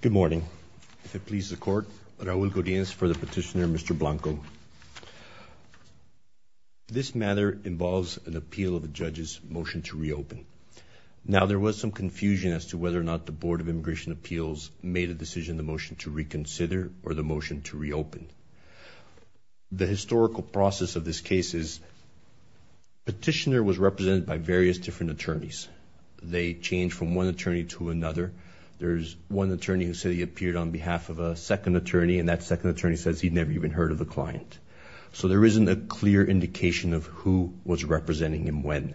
Good morning. If it pleases the court, Raul Godinez for the petitioner Mr. Blanco. This matter involves an appeal of the judge's motion to reopen. Now there was some confusion as to whether or not the Board of Immigration Appeals made a decision the motion to reconsider or the motion to reopen. The historical process of this case is petitioner was represented by various different attorneys. They change from one attorney to another. There's one attorney who said he appeared on behalf of a second attorney and that second attorney says he'd never even heard of the client. So there isn't a clear indication of who was representing him when.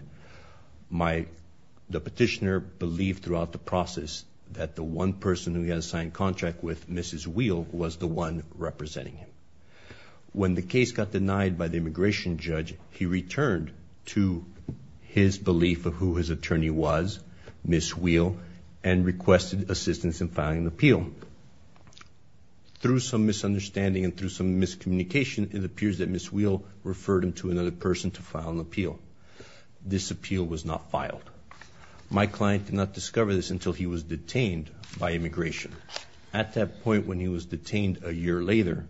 The petitioner believed throughout the process that the one person who he had signed contract with, Mrs. Wheel, was the one representing him. When the case got denied by the immigration judge, he returned to his belief of who his attorney was, Mrs. Wheel, and requested assistance in filing an appeal. Through some misunderstanding and through some miscommunication, it appears that Mrs. Wheel referred him to another person to file an appeal. This appeal was not filed. My client did not discover this until he was detained by immigration. At that point when he was detained a year later,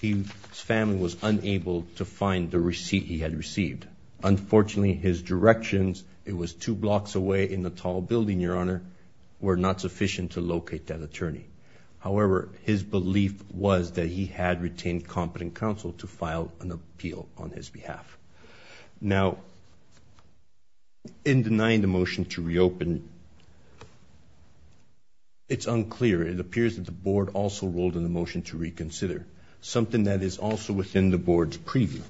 his family was unable to find the receipt he had received. Unfortunately, his directions, it was two blocks away in the tall building, your honor, were not sufficient to locate that attorney. However, his belief was that he had retained competent counsel to file an appeal on his behalf. Now, in denying the motion to reopen, it's unclear. It appears that the board also ruled in the motion to reconsider, something that is also within the board's preview.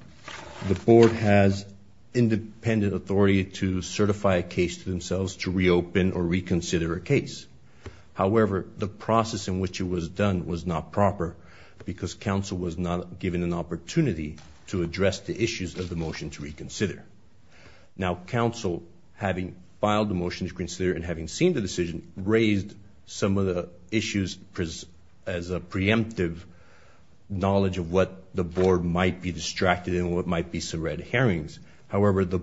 The board has independent authority to certify a case to themselves to reopen or reconsider a case. However, the process in which it was done was not proper because counsel was not given an opportunity to address the issues of the motion to reconsider. Now, counsel, having filed the motion to reconsider and having seen the decision, raised some of the issues as a preemptive knowledge of what the board might be distracted in, what might be subreddit hearings. However, the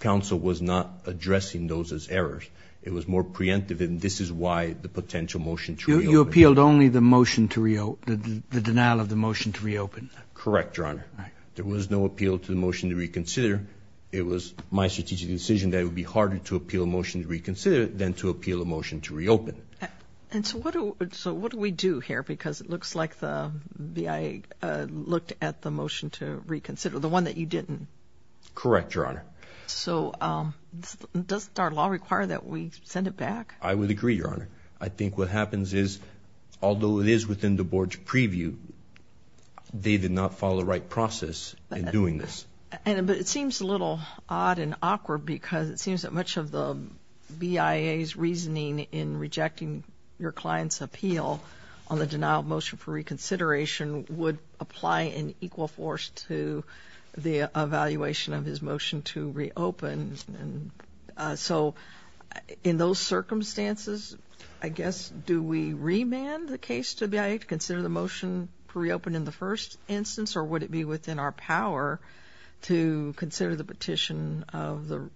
counsel was not addressing those as errors. It was more preemptive and this is why the potential motion to reopen. You appealed only the motion to reopen, the denial of the motion to reopen. Correct, your honor. There was no appeal to the motion to reconsider. It was my strategic decision that it would be harder to appeal a motion to reopen. And so what do we do here? Because it looks like the BIA looked at the motion to reconsider, the one that you didn't. Correct, your honor. So does our law require that we send it back? I would agree, your honor. I think what happens is, although it is within the board's preview, they did not follow the right process in doing this. But it seems a little odd and awkward because it seems that much of the BIA's reasoning in rejecting your client's appeal on the denial of motion for reconsideration would apply an equal force to the evaluation of his motion to reopen. And so in those circumstances, I guess, do we remand the case to BIA to consider the motion to reopen in the first instance? Or would it be within our power to consider the petition of the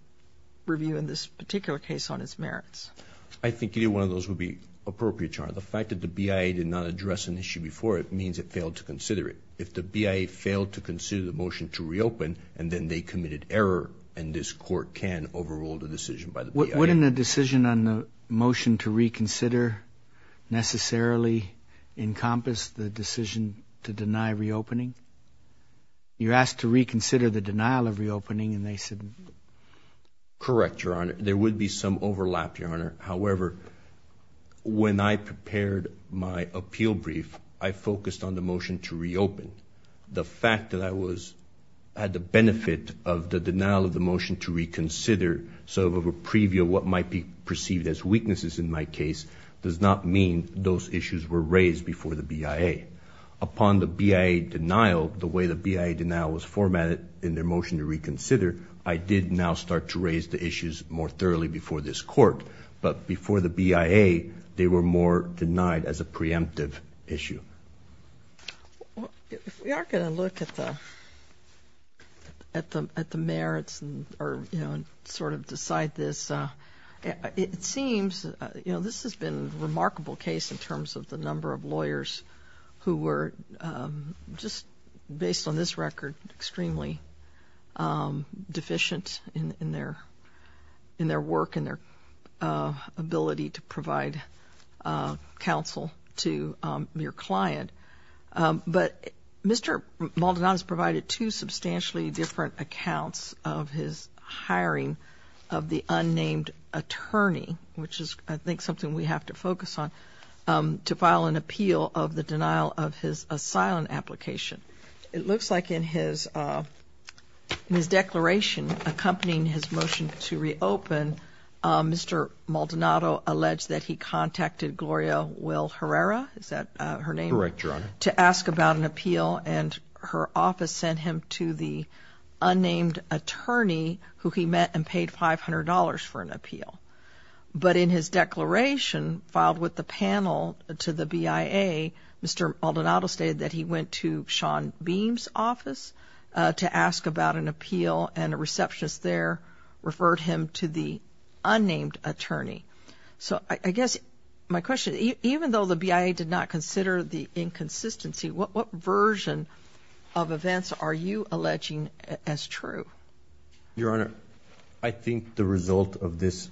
review in this particular case on its merits? I think any one of those would be appropriate, your honor. The fact that the BIA did not address an issue before it means it failed to consider it. If the BIA failed to consider the motion to reopen, and then they committed error, and this court can overrule the decision by the BIA. Wouldn't a decision on the motion to reconsider necessarily encompass the decision to deny reopening? You're asked to reconsider the denial of motion. Correct, your honor. There would be some overlap, your honor. However, when I prepared my appeal brief, I focused on the motion to reopen. The fact that I had the benefit of the denial of the motion to reconsider, sort of a preview of what might be perceived as weaknesses in my case, does not mean those issues were raised before the BIA. Upon the BIA denial, the way the BIA denial was formatted in their motion to reconsider, I did now start to raise the issues more thoroughly before this court. But before the BIA, they were more denied as a preemptive issue. If we are going to look at the merits and sort of decide this, it seems, you know, this has been a remarkable case in terms of the number of extremely deficient in their work and their ability to provide counsel to your client. But Mr. Maldonado has provided two substantially different accounts of his hiring of the unnamed attorney, which is, I think, something we have to focus on, to file an appeal of the denial of his asylum application. It looks like in his declaration accompanying his motion to reopen, Mr. Maldonado alleged that he contacted Gloria Will Herrera, is that her name? Correct, Your Honor. To ask about an appeal and her office sent him to the unnamed attorney who he met and paid $500 for an appeal. But in his declaration filed with the panel to the BIA, Mr. Maldonado stated that he went to Shawn Beam's office to ask about an appeal and a receptionist there referred him to the unnamed attorney. So I guess my question, even though the BIA did not consider the inconsistency, what version of events are you alleging as true? Your Honor, I think the result of this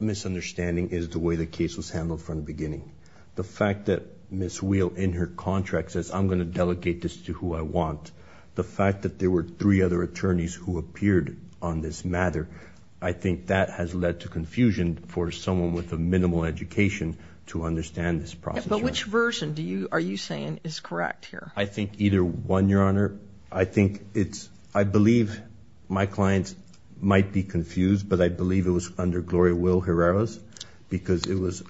misunderstanding is the way the case was beginning. The fact that Ms. Wheel in her contract says, I'm going to delegate this to who I want, the fact that there were three other attorneys who appeared on this matter, I think that has led to confusion for someone with a minimal education to understand this process. But which version do you, are you saying is correct here? I think either one, Your Honor. I think it's, I believe my clients might be confused, but I believe it was under Gloria Will Herrera's because it was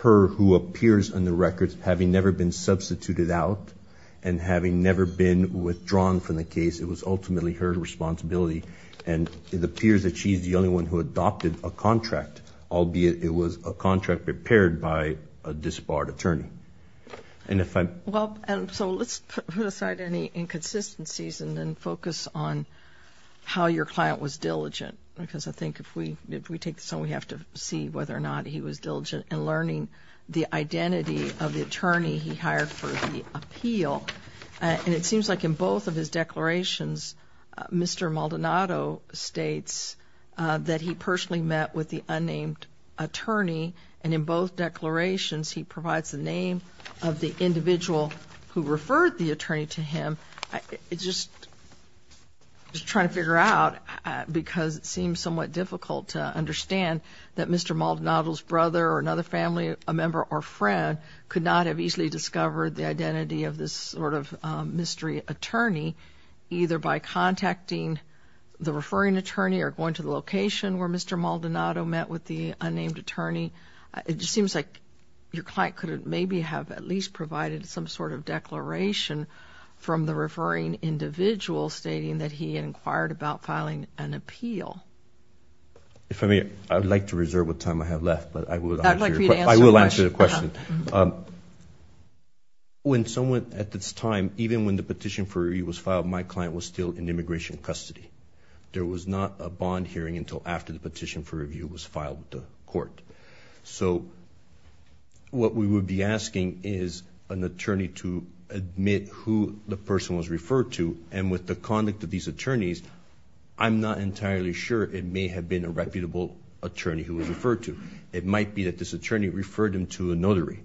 her who appears on the records, having never been substituted out and having never been withdrawn from the case, it was ultimately her responsibility. And it appears that she's the only one who adopted a contract, albeit it was a contract prepared by a disbarred attorney. And if I'm... Well, so let's put aside any inconsistencies and then focus on how your client was diligent. Because I think if we, if we take this and we have to see whether or not he was diligent in learning the identity of the attorney he hired for the appeal. And it seems like in both of his declarations, Mr. Maldonado states that he personally met with the unnamed attorney. And in both declarations, he provides the name of the individual who referred the attorney to him. It's just, just trying to figure out, because it seems somewhat difficult to understand that Mr. Maldonado's brother or another family member or friend could not have easily discovered the identity of this sort of mystery attorney, either by contacting the referring attorney or going to the location where Mr. Maldonado met with the unnamed attorney. It just seems like your client could have maybe have at least provided some sort of declaration from the referring individual stating that he inquired about filing an appeal. If I may, I'd like to reserve what time I have left, but I would like to answer the question. When someone, at this time, even when the petition for review was filed, my client was still in immigration custody. There was not a bond hearing until after the petition for review was filed with the court. So what we would be asking is an attorney to admit who the person was referred to, and with the conduct of these attorneys, I'm not entirely sure it may have been a reputable attorney who was referred to. It might be that this attorney referred him to a notary.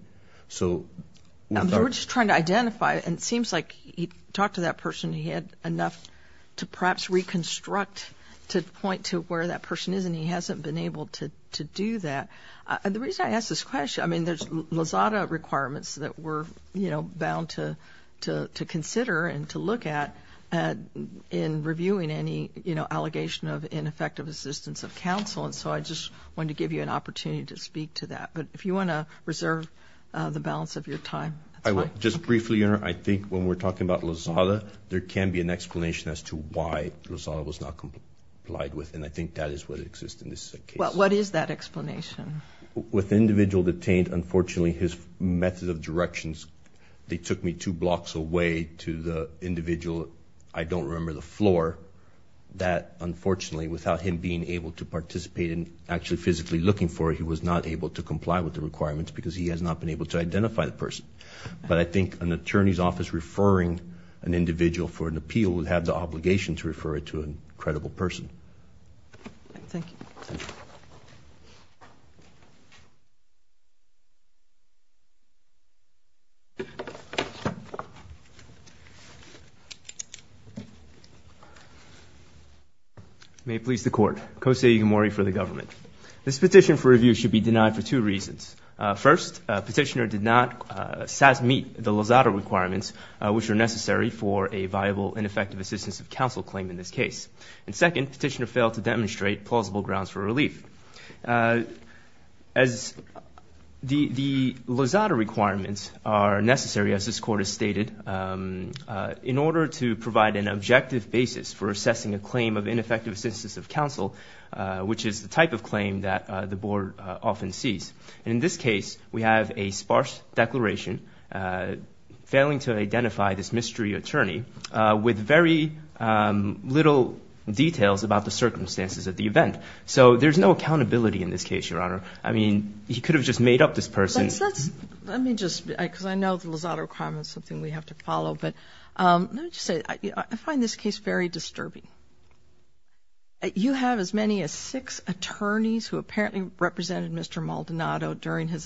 So we're just trying to identify, and it seems like he talked to that person, he had enough to perhaps reconstruct to point to where that person is, and he hasn't been able to do that. And the reason I ask this question, I mean, there's Lozada requirements that we're, you know, bound to consider and to look at in reviewing any, you know, allegation of ineffective assistance of counsel, and so I just wanted to give you an opportunity to speak to that. But if you want to reserve the balance of your time, that's fine. I will. Just briefly, Your Honor, I think when we're talking about Lozada, there can be an individual detainee who has not been complied with, and I think that is what exists in this case. Well, what is that explanation? With the individual detained, unfortunately, his method of directions, they took me two blocks away to the individual, I don't remember the floor, that unfortunately, without him being able to participate in actually physically looking for it, he was not able to comply with the requirements because he has not been able to identify the person. But I think an attorney's office referring an individual for an appeal would have the obligation to identify the individual as a credible person. Thank you. May it please the Court. Kosei Igamori for the government. This petition for review should be denied for two reasons. First, petitioner did not meet the Lozada requirements which are necessary for a viable and effective assistance of case. And second, petitioner failed to demonstrate plausible grounds for relief. As the Lozada requirements are necessary, as this Court has stated, in order to provide an objective basis for assessing a claim of ineffective assistance of counsel, which is the type of claim that the Board often sees. In this case, we have a sparse declaration failing to identify this mystery attorney with very little details about the circumstances at the event. So there's no accountability in this case, Your Honor. I mean, he could have just made up this person. Let me just, because I know the Lozada requirements is something we have to follow, but let me just say, I find this case very disturbing. You have as many as six attorneys who apparently represented Mr. Maldonado during his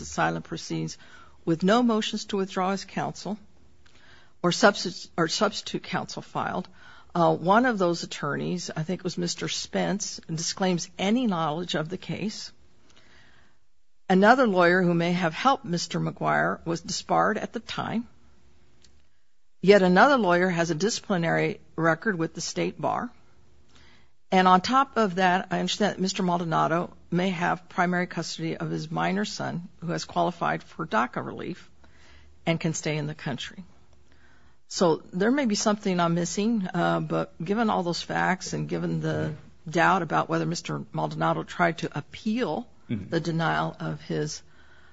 motions to withdraw his counsel or substitute counsel filed. One of those attorneys, I think it was Mr. Spence, disclaims any knowledge of the case. Another lawyer who may have helped Mr. Maguire was disbarred at the time. Yet another lawyer has a disciplinary record with the State Bar. And on top of that, I understand that Mr. Maldonado may have primary custody of his minor son who has and can stay in the country. So there may be something I'm missing, but given all those facts and given the doubt about whether Mr. Maldonado tried to appeal the denial of his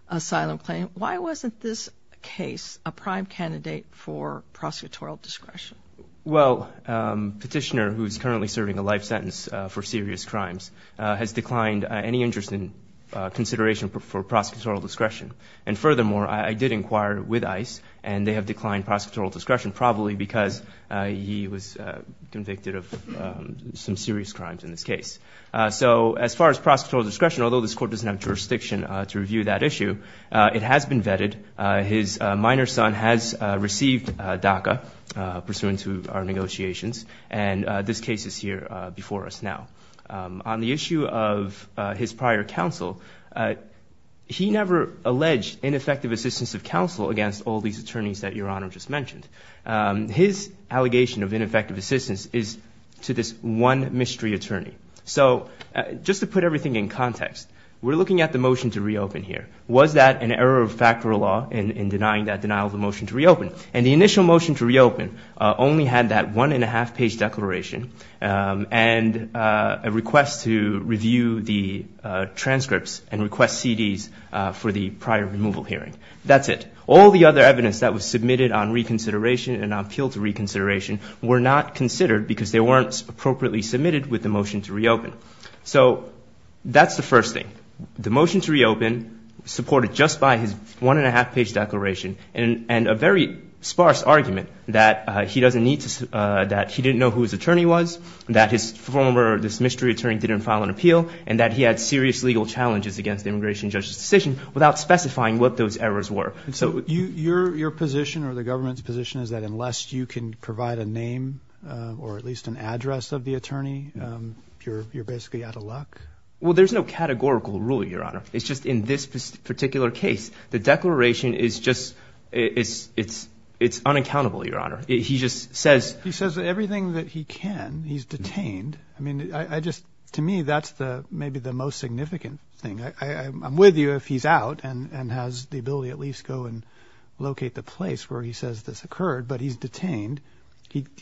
asylum claim, why wasn't this case a prime candidate for prosecutorial discretion? Well, Petitioner, who's currently serving a life sentence for serious crimes, has declined any interest in consideration for prosecutorial discretion. And furthermore, I did inquire with ICE and they have declined prosecutorial discretion probably because he was convicted of some serious crimes in this case. So as far as prosecutorial discretion, although this court doesn't have jurisdiction to review that issue, it has been vetted. His minor son has received DACA pursuant to our negotiations. And this case is here before us now. On the issue of his prior counsel, he never alleged ineffective assistance of counsel against all these attorneys that Your Honor just mentioned. His allegation of ineffective assistance is to this one mystery attorney. So just to put everything in context, we're looking at the motion to reopen here. Was that an error of fact or law in denying that denial of the motion to reopen? And the initial motion to reopen only had that one-and-a-half-page declaration and a request to review the transcripts and request CDs for the prior removal hearing. That's it. All the other evidence that was submitted on reconsideration and on appeal to reconsideration were not considered because they weren't appropriately submitted with the motion to reopen. So that's the first thing. The motion to reopen, supported just by his one-and-a-half-page declaration and a very sparse argument that he doesn't need to, that he didn't know who his attorney was, that his former, this mystery attorney didn't file an appeal, and that he had serious legal challenges against the immigration judge's decision without specifying what those errors were. So your position or the government's position is that unless you can provide a name or at least an address of the attorney, you're basically out of luck? Well, there's no categorical rule, Your Honor. It's just in this particular case, the declaration is just, it's unaccountable, Your Honor. He just says... He says everything that he can. He's detained. I mean, I just, to me, that's the, maybe the most significant thing. I'm with you if he's out and has the ability at least go and locate the place where he says this occurred, but he's detained.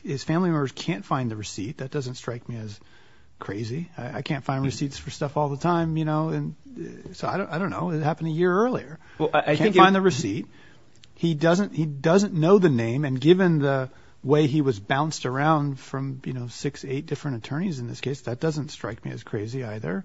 His family members can't find the receipt. That doesn't strike me as crazy. I can't find receipts for stuff all the time, you know, and so I don't know. It happened a year earlier. Well, I can find the receipt. He doesn't, he doesn't know the name, and given the way he was bounced around from, you know, six, eight different attorneys in this case, that doesn't strike me as crazy either,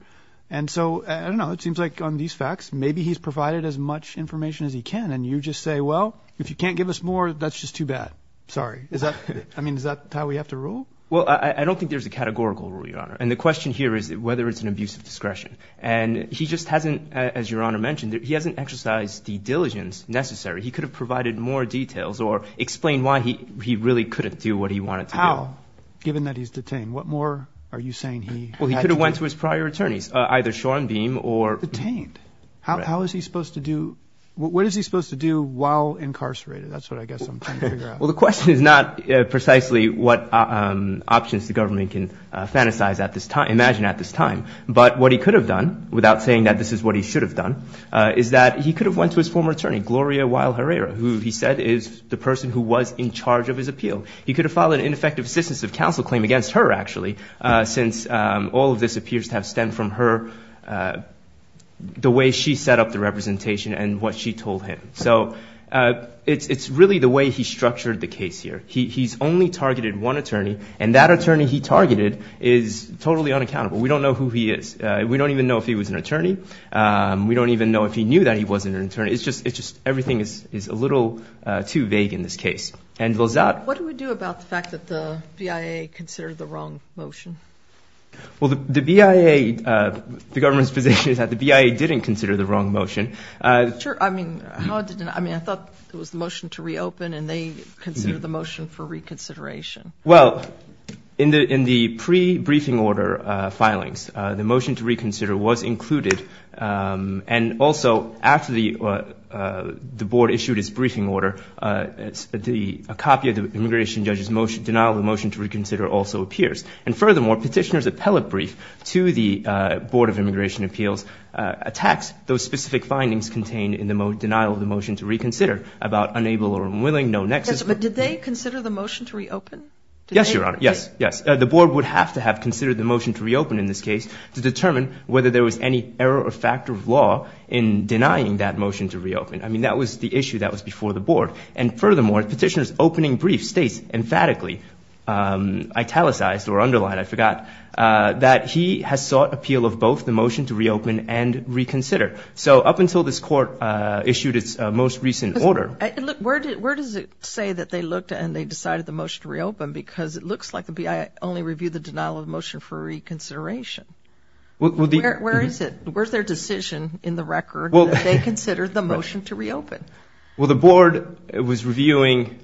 and so, I don't know, it seems like on these facts, maybe he's provided as much information as he can, and you just say, well, if you can't give us more, that's just too bad. Sorry. Is that, I mean, is that how we have to rule? Well, I don't think there's a categorical rule, Your Honor, and the question here is whether it's an abuse of discretion, and he just hasn't, as Your Honor mentioned, he hasn't exercised the diligence necessary. He could have provided more details or explained why he really couldn't do what he wanted to do. How, given that he's detained? What more are you saying he had to do? Well, he could have went to his prior attorneys, either Schoenbeam or... Detained? How is he supposed to do, what is he supposed to do while incarcerated? That's what I guess I'm trying to figure out. Well, the question is not precisely what options the government can fantasize at this time, imagine at this time, but what he could have done, without saying that this is what he should have done, is that he could have went to his former attorney, Gloria Weill Herrera, who he said is the person who was in charge of his appeal. He could have filed an ineffective assistance of counsel claim against her, actually, since all of this appears to have stemmed from her, the way she set up the representation and what she told him. So it's really the way he structured the case here. He's only targeted one attorney, and that attorney he targeted is totally unaccountable. We don't know who he is. We don't even know if he was an attorney. We don't even know if he knew that he wasn't an attorney. It's just, it's just, everything is is a little too vague in this case. What do we do about the fact that the BIA considered the wrong motion? Well, the BIA, the government's position is that the BIA didn't consider the wrong motion. Sure, I mean, I thought it was the motion to reopen and they considered the motion for reconsideration. Well, in the pre-briefing order filings, the motion to reconsider was included, and also after the Board issued its briefing order, a copy of the immigration judge's motion, denial of the motion to reconsider, also appears. And furthermore, petitioners' appellate brief to the Board of Immigration Appeals attacks those specific findings contained in the denial of the motion to reconsider about unable or unwilling, no nexus. But did they consider the motion to reopen? Yes, Your Honor. Yes, yes. The Board would have to have considered the motion to reopen in this case to determine whether there was any error or factor of law in denying that motion to reopen. I mean, that was the issue that was before the Board. And furthermore, petitioners' opening brief states emphatically, italicized or underlined, I forgot, that he has sought appeal of both the motion to reopen and reconsider. So up until this court issued its most recent order. Where does it say that they looked and they decided the motion to reopen? Because it looks like the BIA only reviewed the denial of motion for reconsideration. Well, where is it? Where's their decision in the record that they considered the motion to reopen? Well, the Board was reviewing,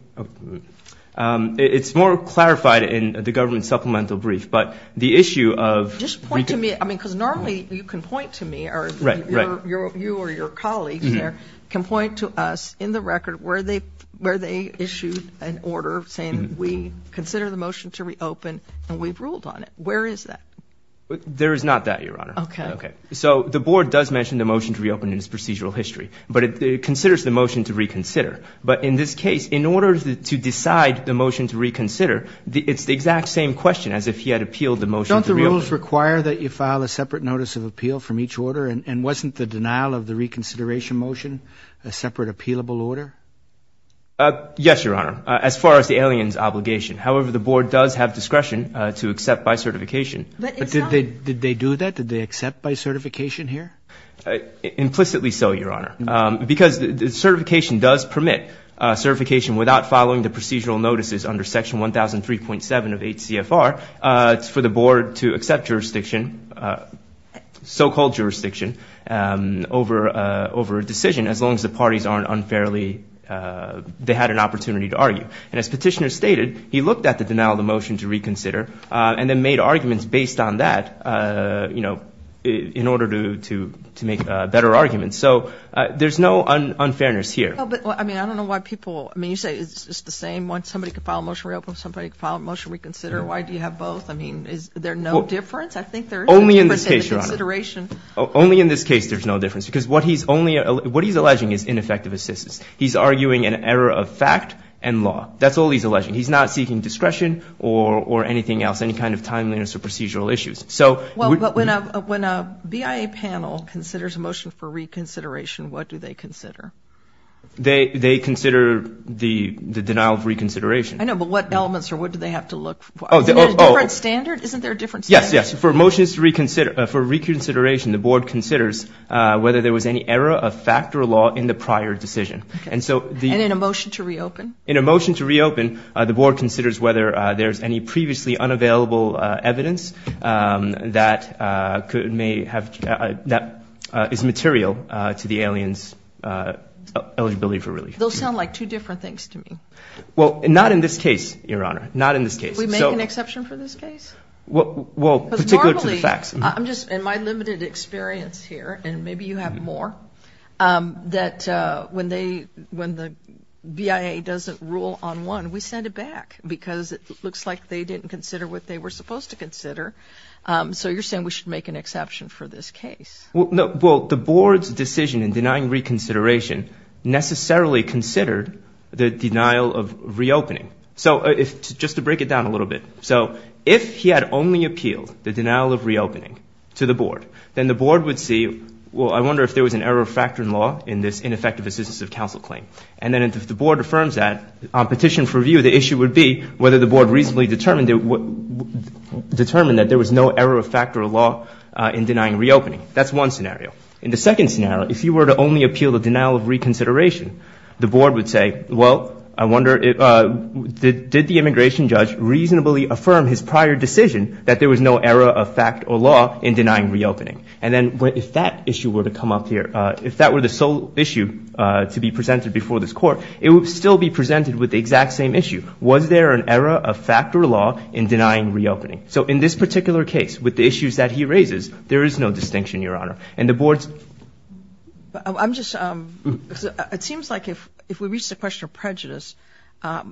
it's more clarified in the government supplemental brief, but the issue of... Just point to me, I mean, because normally you can point to me or you or your colleagues there can point to us in the issued an order saying we consider the motion to reopen and we've ruled on it. Where is that? There is not that, Your Honor. Okay. Okay. So the Board does mention the motion to reopen in its procedural history, but it considers the motion to reconsider. But in this case, in order to decide the motion to reconsider, it's the exact same question as if he had appealed the motion to reopen. Don't the rules require that you file a separate notice of appeal from each order? And wasn't the denial of the Yes, Your Honor, as far as the alien's obligation. However, the Board does have discretion to accept by certification. But did they do that? Did they accept by certification here? Implicitly so, Your Honor, because the certification does permit certification without following the procedural notices under Section 1003.7 of 8 CFR. It's for the Board to accept jurisdiction, so-called jurisdiction, over a decision as long as the parties aren't unfairly, they had an opportunity to argue. And as Petitioner stated, he looked at the denial of the motion to reconsider and then made arguments based on that, you know, in order to make better arguments. So there's no unfairness here. I mean, I don't know why people, I mean, you say it's just the same one. Somebody could file a motion to reopen, somebody could file a motion to reconsider. Why do you have both? I mean, is there no difference? I think there is a difference in the consideration. Only in this case, Your Honor. Only in this case there's no difference because what he's only, what he's arguing is ineffective assistance. He's arguing an error of fact and law. That's all he's alleging. He's not seeking discretion or anything else, any kind of timeliness or procedural issues. So- Well, but when a BIA panel considers a motion for reconsideration, what do they consider? They consider the denial of reconsideration. I know, but what elements or what do they have to look for? Is there a different standard? Isn't there a different standard? Yes, yes. For motions to reconsider, for reconsideration, the Board considers whether there was any error of fact or law in the prior decision. And so- And in a motion to reopen? In a motion to reopen, the Board considers whether there's any previously unavailable evidence that could, may have, that is material to the alien's eligibility for relief. Those sound like two different things to me. Well, not in this case, Your Honor. Not in this case. We make an exception for this case? Well, particular to the facts. I'm just, in my limited experience here, and maybe you have more, that when they, when the BIA doesn't rule on one, we send it back because it looks like they didn't consider what they were supposed to consider. So you're saying we should make an exception for this case? Well, the Board's decision in denying reconsideration necessarily considered the denial of reopening. So, if, just to break it down a little bit, so if he had only appealed the denial of reopening to the Board, then the Board would see, well, I wonder if there was an error of fact or law in this ineffective assistance of counsel claim. And then if the Board affirms that, on petition for review, the issue would be whether the Board reasonably determined that there was no error of fact or law in denying reopening. That's one scenario. In the second scenario, if you were to only appeal the denial of reconsideration, the Board would say, well, I wonder, did the immigration judge reasonably affirm his prior decision that there was no error of fact or law in denying reopening? And then, if that issue were to come up here, if that were the sole issue to be presented before this Court, it would still be presented with the exact same issue. Was there an error of fact or law in denying reopening? So, in this particular case, with the issues that he raises, there is no distinction, Your Honor. And the Board's... I'm just, it seems like if, if we reach the question of prejudice, we're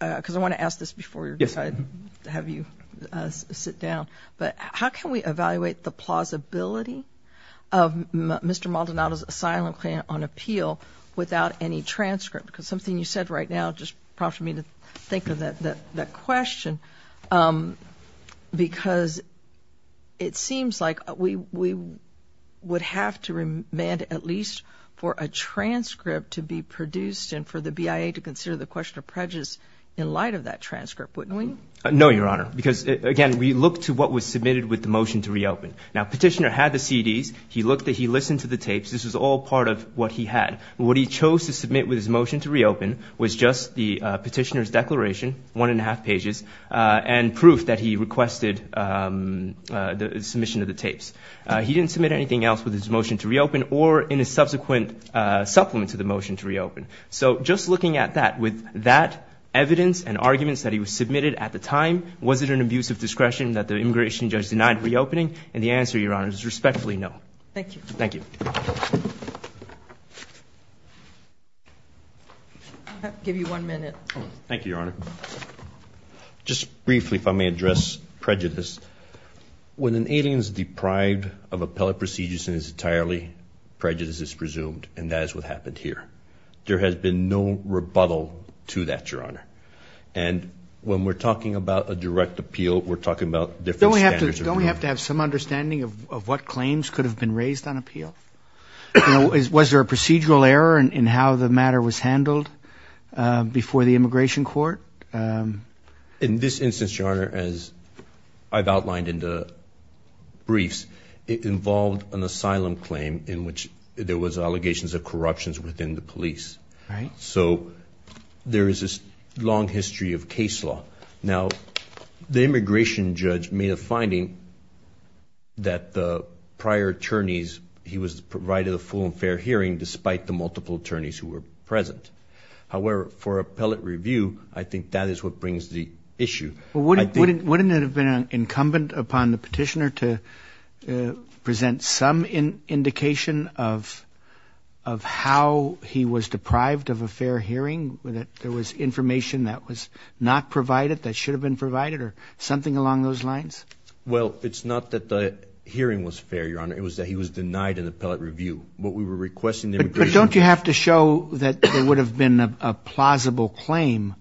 going to have you sit down. But how can we evaluate the plausibility of Mr. Maldonado's asylum claim on appeal without any transcript? Because something you said right now just prompted me to think of that question, because it seems like we would have to remand at least for a transcript to be produced and for the BIA to consider the question of prejudice in light of that transcript, wouldn't we? No, Your Honor. Because, again, we look to what was submitted with the motion to reopen. Now, Petitioner had the CDs. He looked that he listened to the tapes. This was all part of what he had. What he chose to submit with his motion to reopen was just the Petitioner's declaration, one and a half pages, and proof that he requested the submission of the tapes. He didn't submit anything else with his motion to reopen or in a subsequent supplement to the motion to reopen. So, just looking at that, with that evidence and arguments that he was submitted at the time, was it an abuse of discretion that the immigration judge denied reopening? And the answer, Your Honor, is respectfully no. Thank you. Thank you. I'll give you one minute. Thank you, Your Honor. Just briefly, if I may address prejudice, when an alien is deprived of appellate procedures and is entirely prejudiced, it's presumed, and that is what happened here. There has been no rebuttal to that, Your Honor. And when we're talking about a direct appeal, we're talking about different standards. Don't we have to have some understanding of what claims could have been raised on appeal? Was there a procedural error in how the matter was handled before the immigration court? In this instance, Your Honor, as I've outlined in the briefs, it involved an asylum claim in which there was allegations of corruptions within the asylum. So, there is this long history of case law. Now, the immigration judge made a finding that the prior attorneys, he was provided a full and fair hearing despite the multiple attorneys who were present. However, for appellate review, I think that is what brings the issue. Wouldn't it have been incumbent upon the petitioner to present some indication of how he was deprived of a fair hearing, that there was information that was not provided, that should have been provided, or something along those lines? Well, it's not that the hearing was fair, Your Honor. It was that he was denied an appellate review. What we were requesting... But don't you have to show that there would have been a plausible claim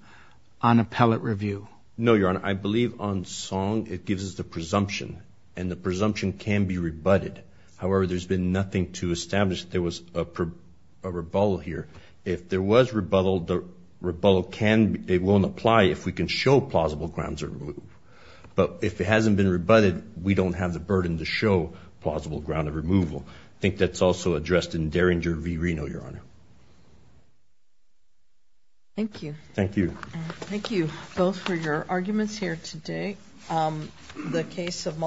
on appellate review? No, Your Honor. I believe on song it gives us the presumption, and the presumption can be rebutted. However, there's been nothing to establish that there was a rebuttal here. If there was rebuttal, the rebuttal can, it won't apply if we can show plausible grounds of removal. But if it hasn't been rebutted, we don't have the burden to show plausible ground of removal. I think that's also addressed in Derringer v. Reno, Your Honor. Thank you. Thank you. Thank you both for your arguments here today. The case of